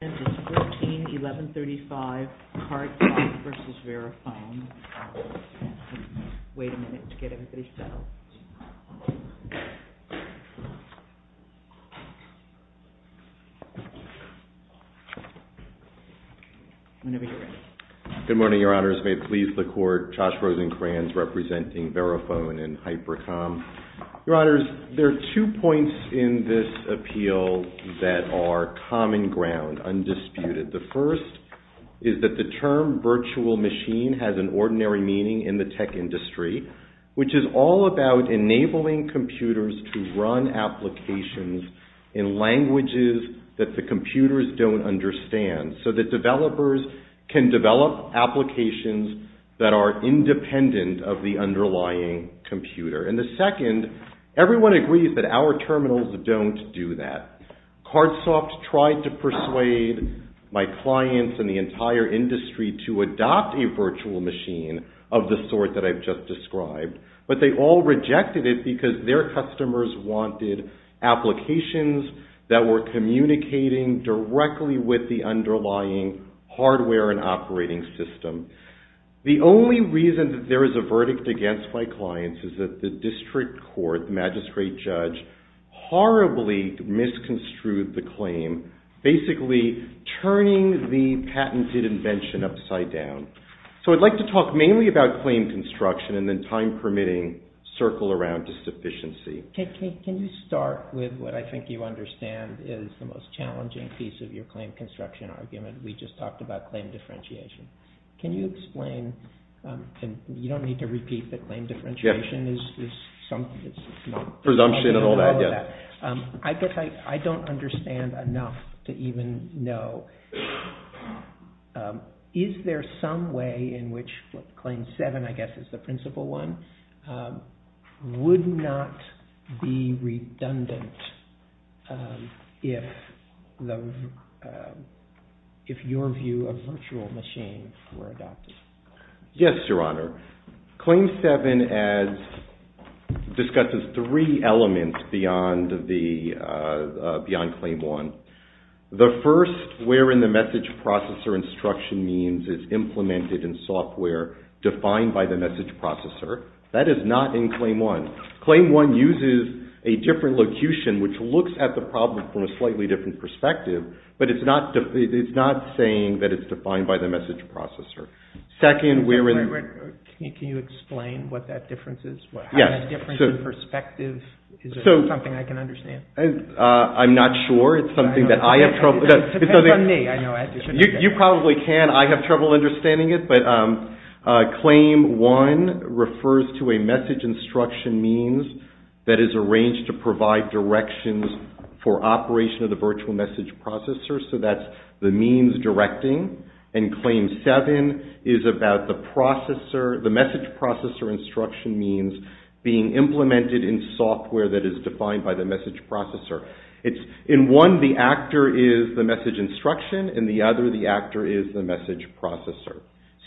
Good morning, Your Honors. May it please the Court, Josh Rosenkranz representing VeriFone and Hypercom. Your Honors, there are two points in this appeal that are common ground, undisputed. The first is that the term virtual machine has an ordinary meaning in the tech industry, which is all about enabling computers to run applications in languages that the computers don't understand so that developers can develop applications that are independent of the underlying computer. And the second, everyone agrees that our terminals don't do that. Cardsoft tried to persuade my clients and the entire industry to adopt a virtual machine of the sort that I've just described, but they all rejected it because their customers wanted applications that were communicating directly with the underlying hardware and operating system. The only reason that there is a verdict against my clients is that the district court, the magistrate judge, horribly misconstrued the claim, basically turning the patented invention upside down. So I'd like to talk mainly about claim construction and then, time permitting, circle around sufficiency. Can you start with what I think you understand is the most challenging piece of your claim construction argument? We just talked about claim differentiation. Can you explain, and you don't need to repeat, that claim differentiation is presumption and all that. I guess I don't understand enough to even know, but is there some way in which claim 7, I guess is the principal one, would not be redundant if your view of virtual machines were adopted? Yes, Your Honor. Claim 7 discusses three elements beyond claim 1. The first, wherein the message processor instruction means it's implemented in software defined by the message processor. That is not in claim 1. Claim 1 uses a different locution which looks at the problem from a slightly different perspective, but it's not saying that it's defined by the message processor. Can you explain what that difference is? How that difference in perspective, is there something I can understand? I'm not sure. It's something that I have trouble. It depends on me. You probably can. I have trouble understanding it, but claim 1 refers to a message instruction means that is arranged to provide directions for operation of the virtual message processor, so that's the means directing. And claim 7 is about the message processor instruction means being implemented in software that is defined by the message processor. In one, the actor is the message instruction. In the other, the actor is the message processor.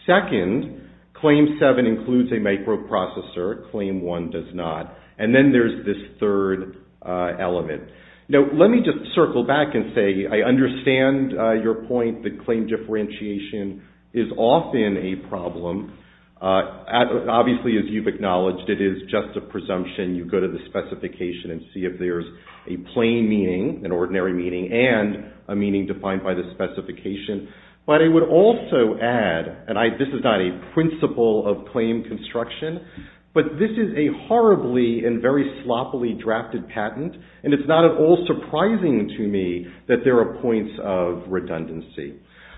Second, claim 7 includes a microprocessor. Claim 1 does not. And then there's this third element. Now, let me just circle back and say I understand your point that claim differentiation is often a problem. Obviously, as you've acknowledged, it is just a presumption. You go to the specification and see if there's a plain meaning, an ordinary meaning, and a meaning defined by the specification. But I would also add, and this is not a principle of claim construction, but this is a horribly and very sloppily drafted patent, and it's not at all surprising to me that there are points of redundancy.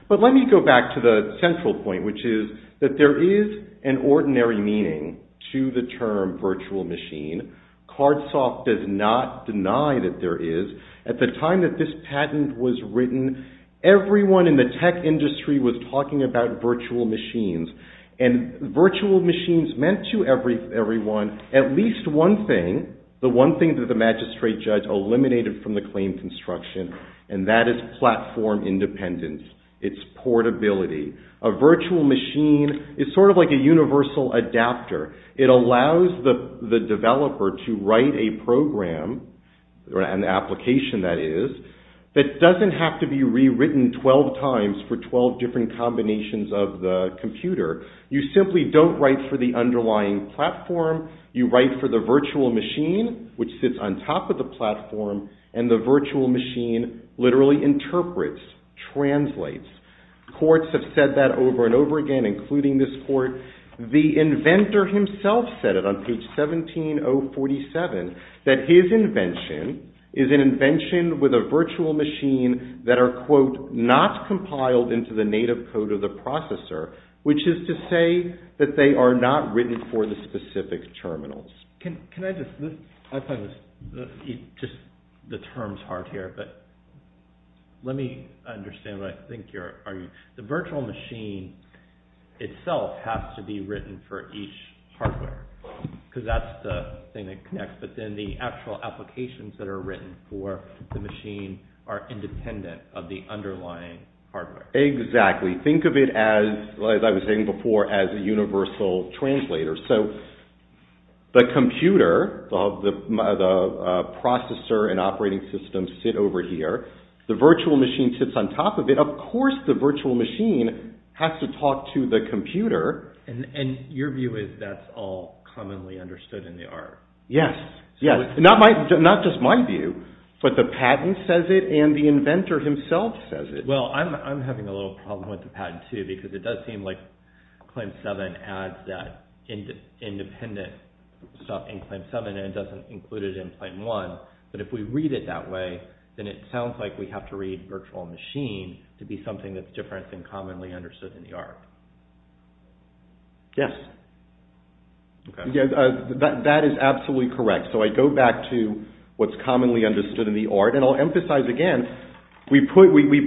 But let me go back to the central point, which is that there is an ordinary meaning to the term virtual machine. Cardsoft does not deny that there is. At the time that this patent was written, everyone in the tech industry was talking about virtual machines. And virtual machines meant to everyone at least one thing, the one thing that the magistrate judge eliminated from the claim construction, and that is platform independence. It's portability. A virtual machine is sort of like a universal adapter. It allows the developer to write a program, an application that is, that doesn't have to be rewritten 12 times for 12 different combinations of the computer. You simply don't write for the underlying platform. You write for the virtual machine, which sits on top of the platform, and the virtual machine literally interprets, translates. Courts have said that over and over again, including this court. The inventor himself said it on page 17-047, that his invention is an invention with a virtual machine that are, quote, not compiled into the native code of the processor, which is to say that they are not written for the specific terminals. Can I just, I find this, just the terms hard here, but let me understand what I think you're arguing. The virtual machine itself has to be written for each hardware, because that's the thing that connects, but then the actual applications that are written for the machine are independent of the underlying hardware. Exactly. Think of it as, as I was saying before, as a universal translator. So the computer, the processor and operating system sit over here. The virtual machine sits on top of it. Of course the virtual machine has to talk to the computer. And your view is that's all commonly understood in the art. Yes, yes. Not just my view, but the patent says it and the inventor himself says it. Well, I'm having a little problem with the patent too, because it does seem like Claim 7 adds that independent stuff in Claim 7 and doesn't include it in Claim 1. But if we read it that way, then it sounds like we have to read virtual machine to be something that's different than commonly understood in the art. Yes. That is absolutely correct. So I go back to what's commonly understood in the art. And I'll emphasize again, we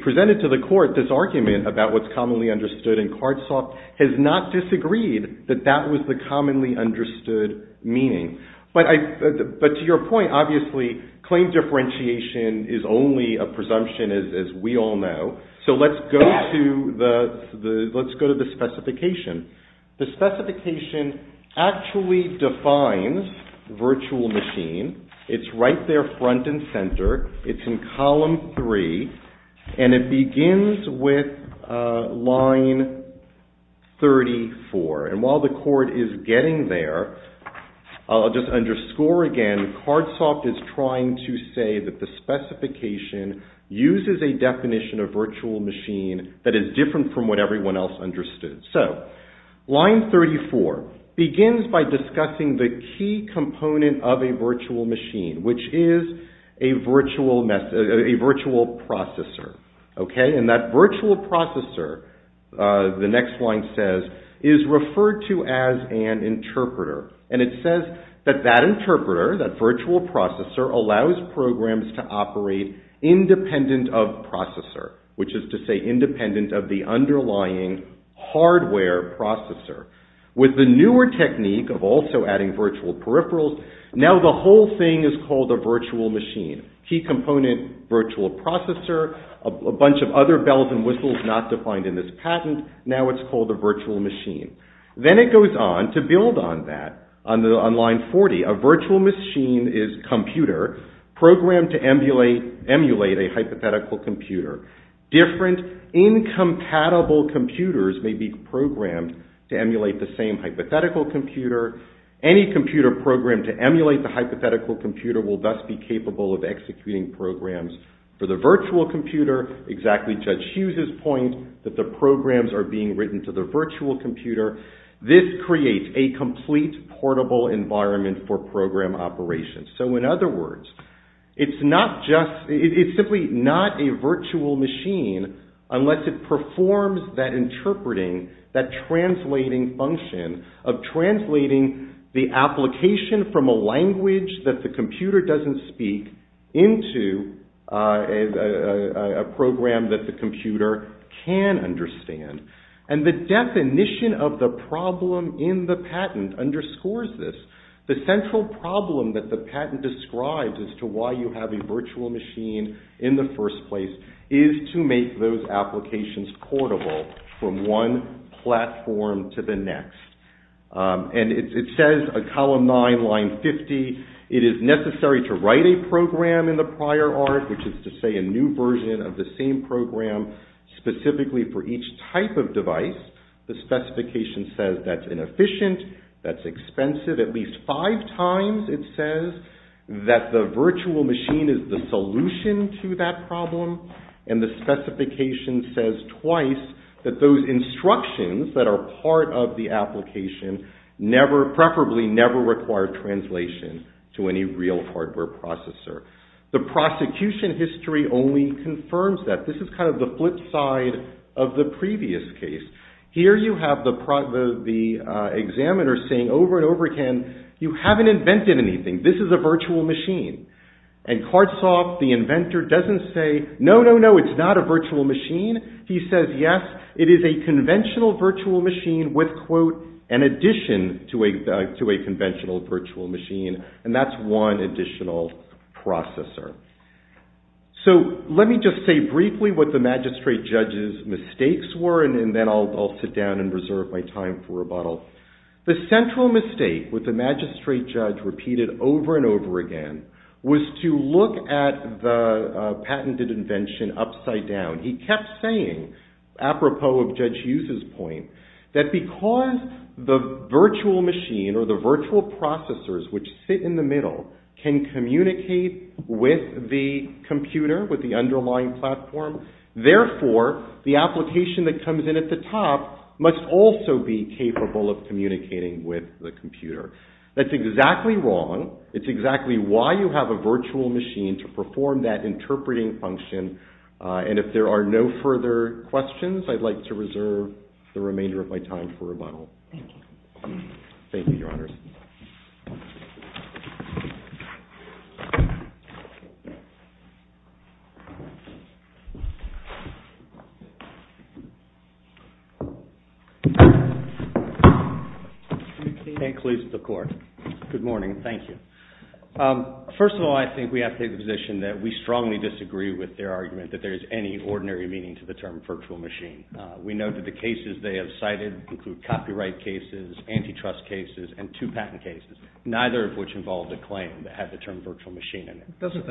presented to the court this argument about what's commonly understood. And Cardsoft has not disagreed that that was the commonly understood meaning. But to your point, obviously, claim differentiation is only a presumption as we all know. So let's go to the specification. The specification actually defines virtual machine. It's right there front and center. It's in column 3. And it begins with line 34. And while the court is getting there, I'll just underscore again, Cardsoft is trying to say that the specification uses a definition of virtual machine that is different from what everyone else understood. So line 34 begins by discussing the key component of a virtual machine, which is a virtual processor. And that virtual processor, the next line says, is referred to as an interpreter. And it says that that interpreter, that virtual processor, allows programs to operate independent of processor, which is to say independent of the underlying hardware processor. With the newer technique of also adding virtual peripherals, now the whole thing is called a virtual machine. Key component, virtual processor, a bunch of other bells and whistles not defined in this patent. Now it's called a virtual machine. Then it goes on to build on that. On line 40, a virtual machine is computer programmed to emulate a hypothetical computer. Different incompatible computers may be programmed to emulate the same hypothetical computer. Any computer programmed to emulate the hypothetical computer will thus be capable of executing programs for the virtual computer, exactly Judge Hughes's point that the programs are being written to the virtual computer. This creates a complete portable environment for program operations. So in other words, it's simply not a virtual machine unless it performs that interpreting, that translating function, of translating the application from a language that the computer doesn't speak into a program that the computer can understand. And the definition of the problem in the patent underscores this. The central problem that the patent describes as to why you have a virtual machine in the first place, is to make those applications portable from one platform to the next. And it says on column 9, line 50, it is necessary to write a program in the prior art, which is to say a new version of the same program specifically for each type of device. The specification says that's inefficient, that's expensive. At least five times it says that the virtual machine is the solution to that problem. And the specification says twice that those instructions that are part of the application preferably never require translation to any real hardware processor. The prosecution history only confirms that. This is kind of the flip side of the previous case. Here you have the examiner saying over and over again, you haven't invented anything. This is a virtual machine. And Cardsoft, the inventor, doesn't say, no, no, no, it's not a virtual machine. He says, yes, it is a conventional virtual machine with, quote, an addition to a conventional virtual machine. And that's one additional processor. So let me just say briefly what the magistrate judge's mistakes were, and then I'll sit down and reserve my time for rebuttal. The central mistake that the magistrate judge repeated over and over again was to look at the patented invention upside down. He kept saying, apropos of Judge Hughes' point, that because the virtual machine or the virtual processors which sit in the middle can communicate with the computer, with the underlying platform, therefore the application that comes in at the top must also be capable of communicating with the computer. That's exactly wrong. It's exactly why you have a virtual machine to perform that interpreting function. And if there are no further questions, I'd like to reserve the remainder of my time for rebuttal. Thank you. Thank you, Your Honor. You may close the court. Good morning. Thank you. First of all, I think we have to take the position that we strongly disagree with their argument that there is any ordinary meaning to the term virtual machine. We know that the cases they have cited include copyright cases, antitrust cases, and two patent cases, neither of which involved a claim that had the term virtual machine in it. Doesn't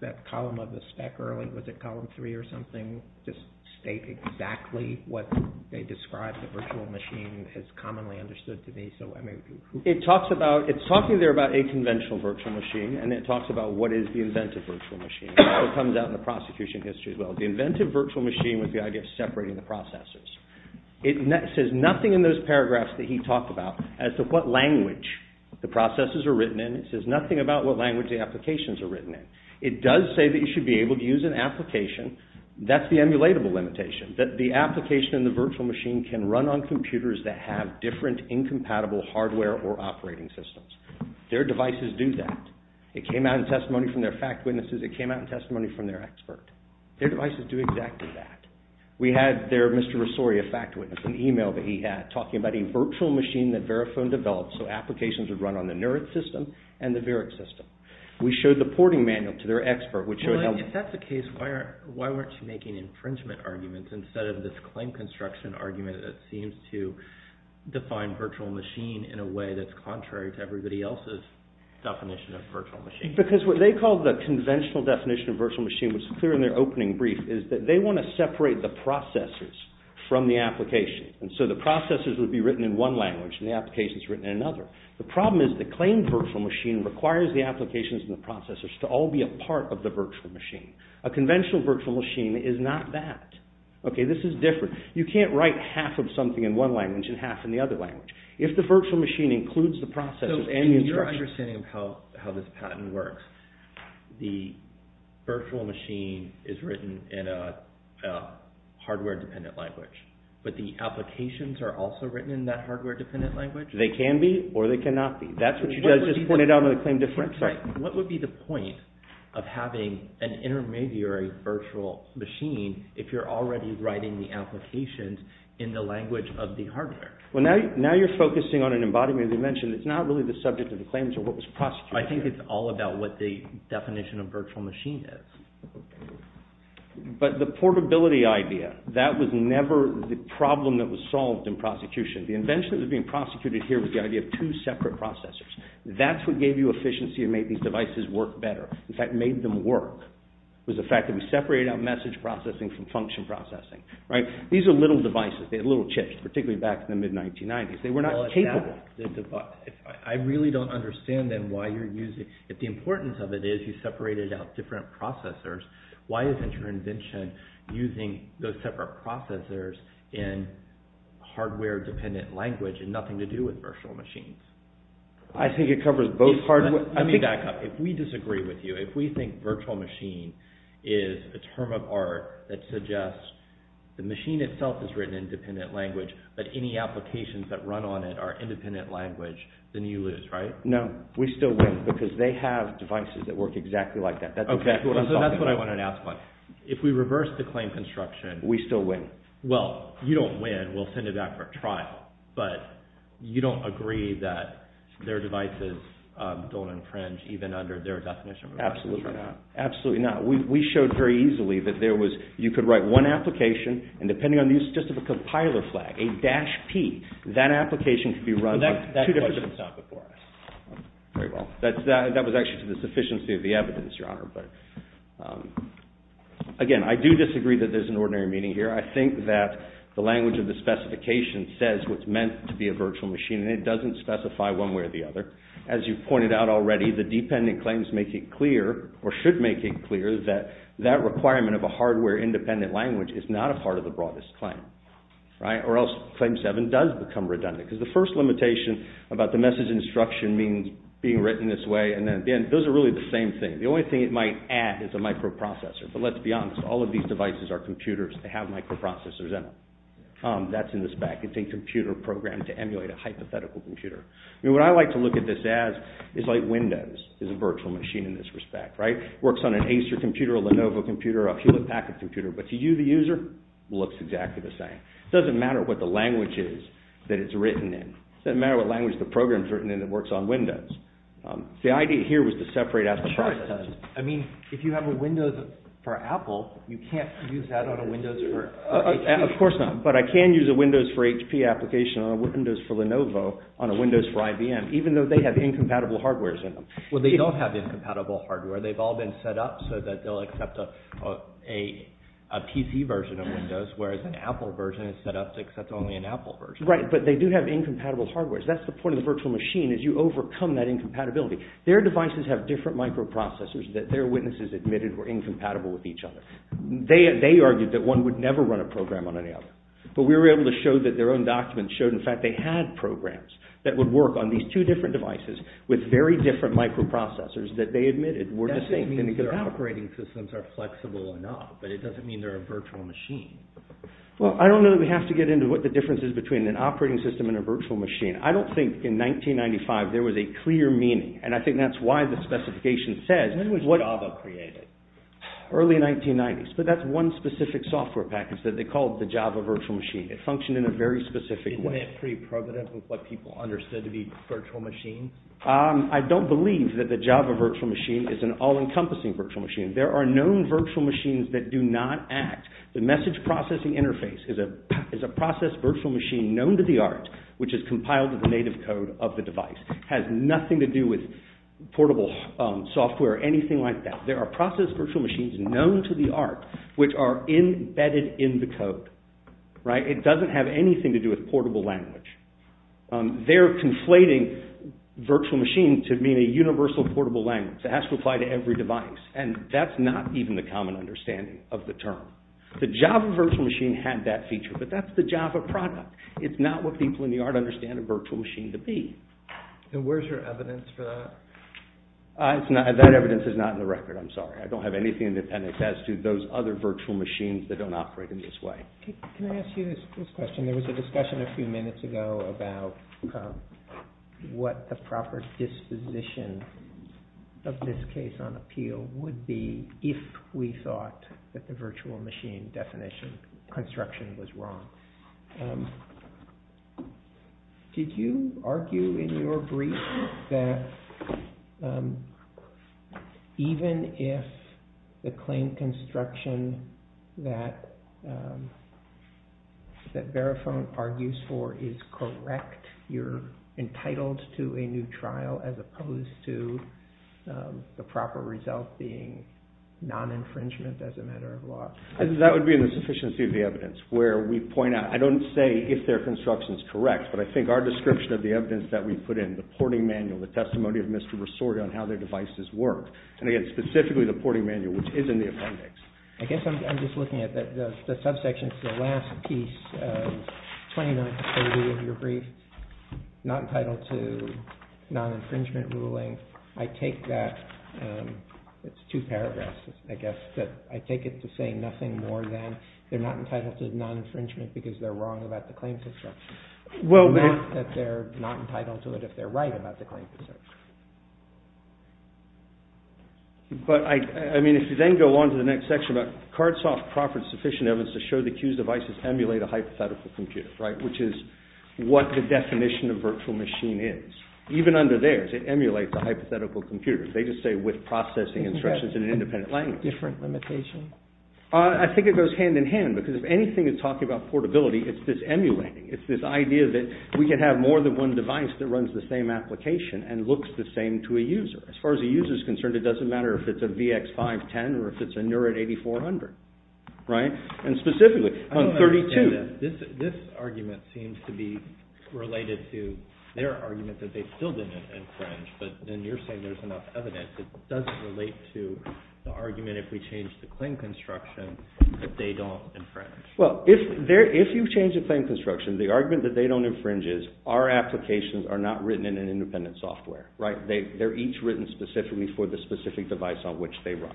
that column of the spec early, was it column three or something, just state exactly what they describe the virtual machine as commonly understood to be? It's talking there about a conventional virtual machine, and it talks about what is the inventive virtual machine. It comes out in the prosecution history as well. The inventive virtual machine was the idea of separating the processes. It says nothing in those paragraphs that he talked about as to what language the processes are written in. It says nothing about what language the applications are written in. It does say that you should be able to use an application. That's the emulatable limitation, that the application in the virtual machine can run on computers that have different incompatible hardware or operating systems. Their devices do that. It came out in testimony from their fact witnesses. It came out in testimony from their expert. Their devices do exactly that. We had their Mr. Rosori, a fact witness, an email that he had talking about a virtual machine that Verifone developed so applications would run on the NERIT system and the VERIC system. We showed the porting manual to their expert, which showed how— Well, if that's the case, why weren't you making infringement arguments instead of this claim construction argument that seems to define virtual machine in a way that's contrary to everybody else's definition of virtual machine? Because what they call the conventional definition of virtual machine, which is clear in their opening brief, is that they want to separate the processes from the application. And so the processes would be written in one language and the applications written in another. The problem is the claimed virtual machine requires the applications and the processes to all be a part of the virtual machine. A conventional virtual machine is not that. Okay, this is different. You can't write half of something in one language and half in the other language. If the virtual machine includes the processes and the instructions— So in your understanding of how this patent works, the virtual machine is written in a hardware-dependent language, but the applications are also written in that hardware-dependent language? They can be or they cannot be. That's what you just pointed out in the claim defense. What would be the point of having an intermediary virtual machine if you're already writing the applications in the language of the hardware? Well, now you're focusing on an embodiment of the invention. It's not really the subject of the claims or what was prosecuted. I think it's all about what the definition of virtual machine is. But the portability idea, that was never the problem that was solved in prosecution. The invention that was being prosecuted here was the idea of two separate processors. That's what gave you efficiency and made these devices work better. In fact, made them work was the fact that we separated out message processing from function processing. These are little devices. They had little chips, particularly back in the mid-1990s. They were not capable. I really don't understand then why you're using— if the importance of it is you separated out different processors, why isn't your invention using those separate processors in hardware-dependent language and nothing to do with virtual machines? I think it covers both hardware— Let me back up. If we disagree with you, if we think virtual machine is a term of art that suggests the machine itself is written in independent language, but any applications that run on it are independent language, then you lose, right? No, we still win because they have devices that work exactly like that. That's exactly what I'm talking about. Okay, so that's what I wanted to ask about. If we reverse the claim construction— We still win. Well, you don't win. We'll send it back for a trial. But you don't agree that their devices don't infringe even under their definition of a virtual machine? Absolutely not. Absolutely not. We showed very easily that you could write one application, and depending on the use of just a compiler flag, a dash P, that application could be run like two different— That question is not before us. Very well. That was actually to the sufficiency of the evidence, Your Honor. Again, I do disagree that there's an ordinary meaning here. I think that the language of the specification says what's meant to be a virtual machine, and it doesn't specify one way or the other. As you've pointed out already, the dependent claims make it clear, or should make it clear, that that requirement of a hardware-independent language is not a part of the broadest claim, right? Or else Claim 7 does become redundant, because the first limitation about the message instruction means being written this way, and then again, those are really the same thing. The only thing it might add is a microprocessor. But let's be honest. All of these devices are computers. They have microprocessors in them. That's in the spec. It's a computer program to emulate a hypothetical computer. What I like to look at this as is like Windows is a virtual machine in this respect, right? It works on an Acer computer, a Lenovo computer, a Hewlett-Packard computer, but to you, the user, it looks exactly the same. It doesn't matter what the language is that it's written in. It doesn't matter what language the program's written in that works on Windows. The idea here was to separate out the process. I mean, if you have a Windows for Apple, you can't use that on a Windows for HP. Of course not, but I can use a Windows for HP application on a Windows for Lenovo on a Windows for IBM, even though they have incompatible hardware in them. Well, they don't have incompatible hardware. They've all been set up so that they'll accept a PC version of Windows, whereas an Apple version is set up to accept only an Apple version. Right, but they do have incompatible hardware. That's the point of the virtual machine is you overcome that incompatibility. Their devices have different microprocessors that their witnesses admitted were incompatible with each other. They argued that one would never run a program on any other, but we were able to show that their own documents showed, in fact, they had programs that would work on these two different devices with very different microprocessors that they admitted were the same. That doesn't mean their operating systems are flexible enough, but it doesn't mean they're a virtual machine. Well, I don't know that we have to get into what the difference is between an operating system and a virtual machine. I don't think in 1995 there was a clear meaning, and I think that's why the specification says... When was Java created? Early 1990s, but that's one specific software package that they called the Java virtual machine. It functioned in a very specific way. Isn't that pretty prevalent with what people understood to be virtual machines? I don't believe that the Java virtual machine is an all-encompassing virtual machine. There are known virtual machines that do not act. The message processing interface is a process virtual machine known to the art which is compiled to the native code of the device. It has nothing to do with portable software or anything like that. There are process virtual machines known to the art which are embedded in the code. It doesn't have anything to do with portable language. They're conflating virtual machines to being a universal portable language. It has to apply to every device, and that's not even the common understanding of the term. The Java virtual machine had that feature, but that's the Java product. It's not what people in the art understand a virtual machine to be. Where's your evidence for that? That evidence is not in the record, I'm sorry. I don't have anything in the appendix as to those other virtual machines that don't operate in this way. Can I ask you this question? There was a discussion a few minutes ago about what the proper disposition of this case on appeal would be if we thought that the virtual machine definition construction was wrong. Did you argue in your brief that even if the claim construction that Verifone argues for is correct, you're entitled to a new trial as opposed to the proper result being non-infringement as a matter of law? That would be in the sufficiency of the evidence, where we point out. I don't say if their construction is correct, but I think our description of the evidence that we put in, the porting manual, the testimony of Mr. Rosoria on how their devices work, and again, specifically the porting manual, which is in the appendix. I guess I'm just looking at the subsection, the last piece of 29 to 30 of your brief, not entitled to non-infringement ruling. I take that, it's two paragraphs, I guess, that I take it to say nothing more than they're not entitled to non-infringement because they're wrong about the claim construction. Not that they're not entitled to it if they're right about the claim construction. But, I mean, if you then go on to the next section about cards off proper sufficient evidence to show the accused devices emulate a hypothetical computer, right, which is what the definition of virtual machine is. Even under theirs, it emulates a hypothetical computer. They just say with processing instructions in an independent language. Different limitation? I think it goes hand in hand because if anything is talking about portability, it's this emulating. It's this idea that we can have more than one device that runs the same application and looks the same to a user. As far as a user is concerned, it doesn't matter if it's a VX510 or if it's a Neurit 8400, right? And specifically, on 32. This argument seems to be related to their argument that they still didn't infringe, but then you're saying there's enough evidence. It doesn't relate to the argument if we change the claim construction that they don't infringe. Well, if you change the claim construction, the argument that they don't infringe is our applications are not written in an independent software, right? They're each written specifically for the specific device on which they run.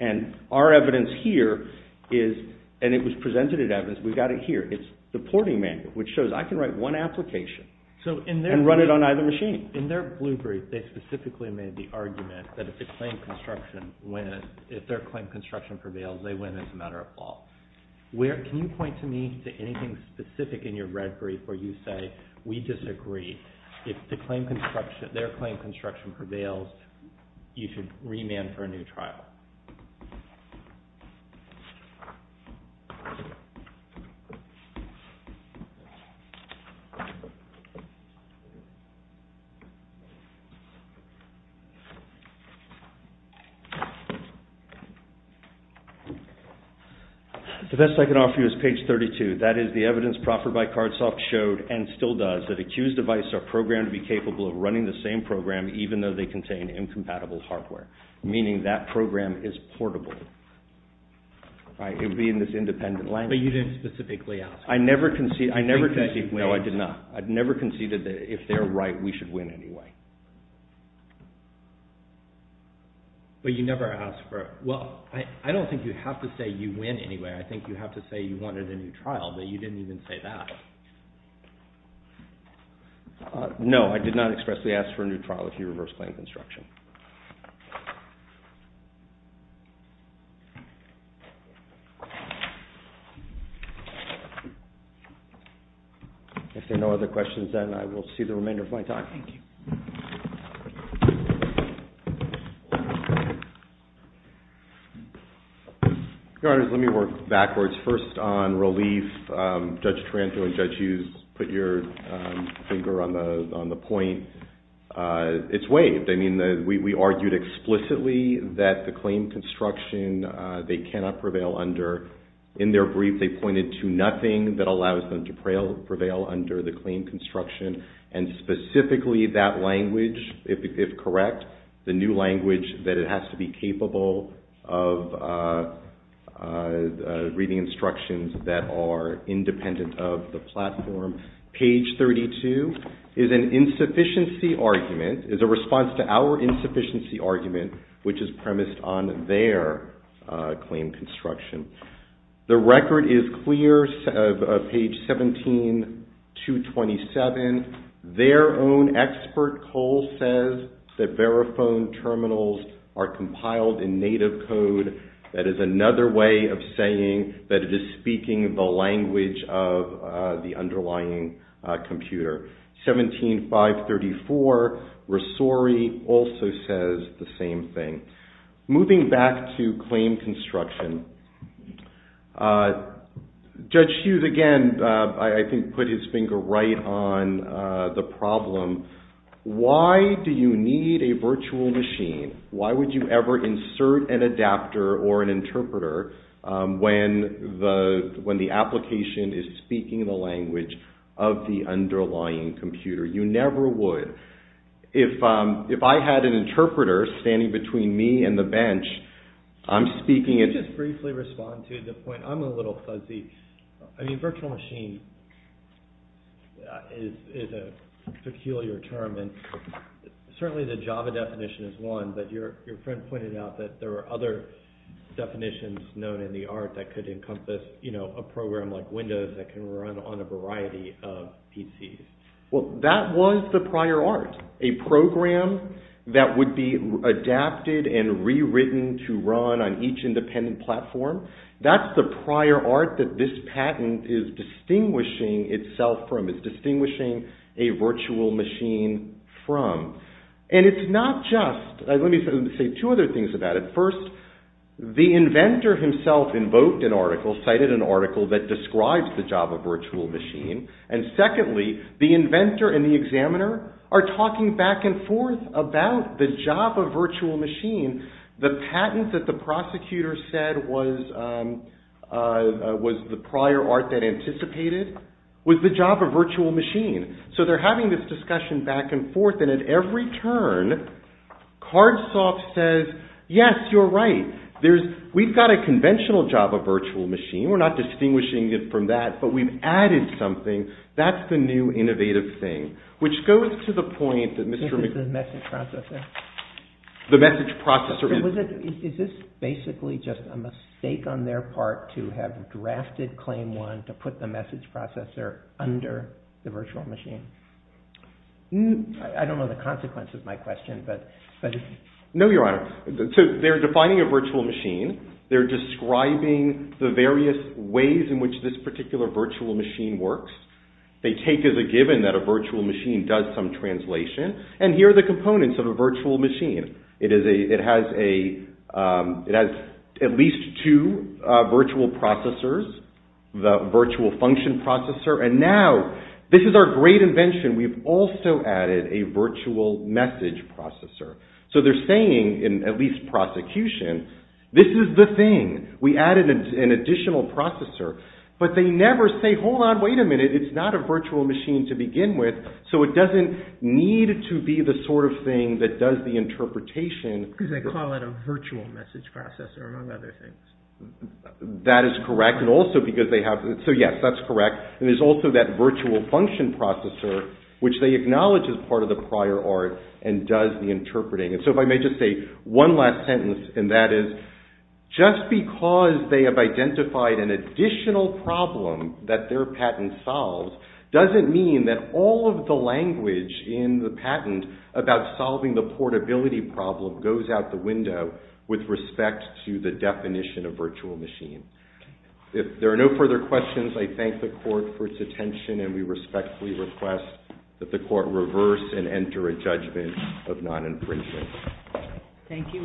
And our evidence here is, and it was presented at evidence, we've got it here. It's the porting manual, which shows I can write one application and run it on either machine. In their blue brief, they specifically made the argument that if their claim construction prevails, they win as a matter of law. Can you point to me to anything specific in your red brief where you say, we disagree. If their claim construction prevails, you should remand for a new trial. The best I can offer you is page 32. That is the evidence proffered by Cardsoft showed, and still does, that accused devices are programmed to be capable of running the same program even though they contain incompatible hardware, meaning that program is portable. It would be in this independent language. But you didn't specifically ask. I never conceded. I think that you did. No, I did not. I never conceded that if they're right, we should win anyway. But you never asked for it. Well, I don't think you have to say you win anyway. I think you have to say you wanted a new trial, but you didn't even say that. No, I did not expressly ask for a new trial if you reverse claim construction. If there are no other questions, then I will see the remainder of my time. Thank you. Your Honors, let me work backwards. First on relief, Judge Taranto and Judge Hughes put your finger on the point. It's waived. I mean, we argued explicitly that the claim construction they cannot prevail under. In their brief, they pointed to nothing that allows them to prevail under the claim construction, and specifically that language, if correct, the new language that it has to be capable of reading instructions that are independent of the platform. Page 32 is an insufficiency argument, is a response to our insufficiency argument, which is premised on their claim construction. The record is clear of page 17-227. Their own expert, Cole, says that Verifone terminals are compiled in native code. That is another way of saying that it is speaking the language of the underlying computer. 17-534, Rosori also says the same thing. Moving back to claim construction, Judge Hughes, again, I think put his finger right on the problem. Why do you need a virtual machine? Why would you ever insert an adapter or an interpreter when the application is speaking the language of the underlying computer? You never would. If I had an interpreter standing between me and the bench, I'm speaking... Can I just briefly respond to the point? I'm a little fuzzy. I mean, virtual machine is a peculiar term, and certainly the Java definition is one, but your friend pointed out that there are other definitions known in the art that could encompass a program like Windows that can run on a variety of PCs. Well, that was the prior art. A program that would be adapted and rewritten to run on each independent platform, that's the prior art that this patent is distinguishing itself from, is distinguishing a virtual machine from. And it's not just... Let me say two other things about it. First, the inventor himself invoked an article, cited an article that describes the Java virtual machine, and secondly, the inventor and the examiner are talking back and forth about the Java virtual machine. The patent that the prosecutor said was the prior art that anticipated was the Java virtual machine. So they're having this discussion back and forth, and at every turn, Cardsoft says, yes, you're right, we've got a conventional Java virtual machine. We're not distinguishing it from that, but we've added something. That's the new innovative thing, which goes to the point that Mr. McBride... This is the message processor? The message processor... So is this basically just a mistake on their part to have drafted Claim 1 to put the message processor under the virtual machine? I don't know the consequence of my question, but... No, Your Honor. So they're defining a virtual machine. They're describing the various ways in which this particular virtual machine works. They take as a given that a virtual machine does some translation, and here are the components of a virtual machine. It has at least two virtual processors, the virtual function processor, and now this is our great invention. We've also added a virtual message processor. So they're saying, in at least prosecution, this is the thing. We added an additional processor, but they never say, hold on, wait a minute, it's not a virtual machine to begin with, so it doesn't need to be the sort of thing that does the interpretation. Because they call it a virtual message processor, among other things. That is correct, and also because they have... And so if I may just say one last sentence, and that is, just because they have identified an additional problem that their patent solves, doesn't mean that all of the language in the patent about solving the portability problem goes out the window with respect to the definition of virtual machine. If there are no further questions, I thank the court for its attention, and we respectfully request that the court reverse and enter a judgment of non-imprisonment. Thank you.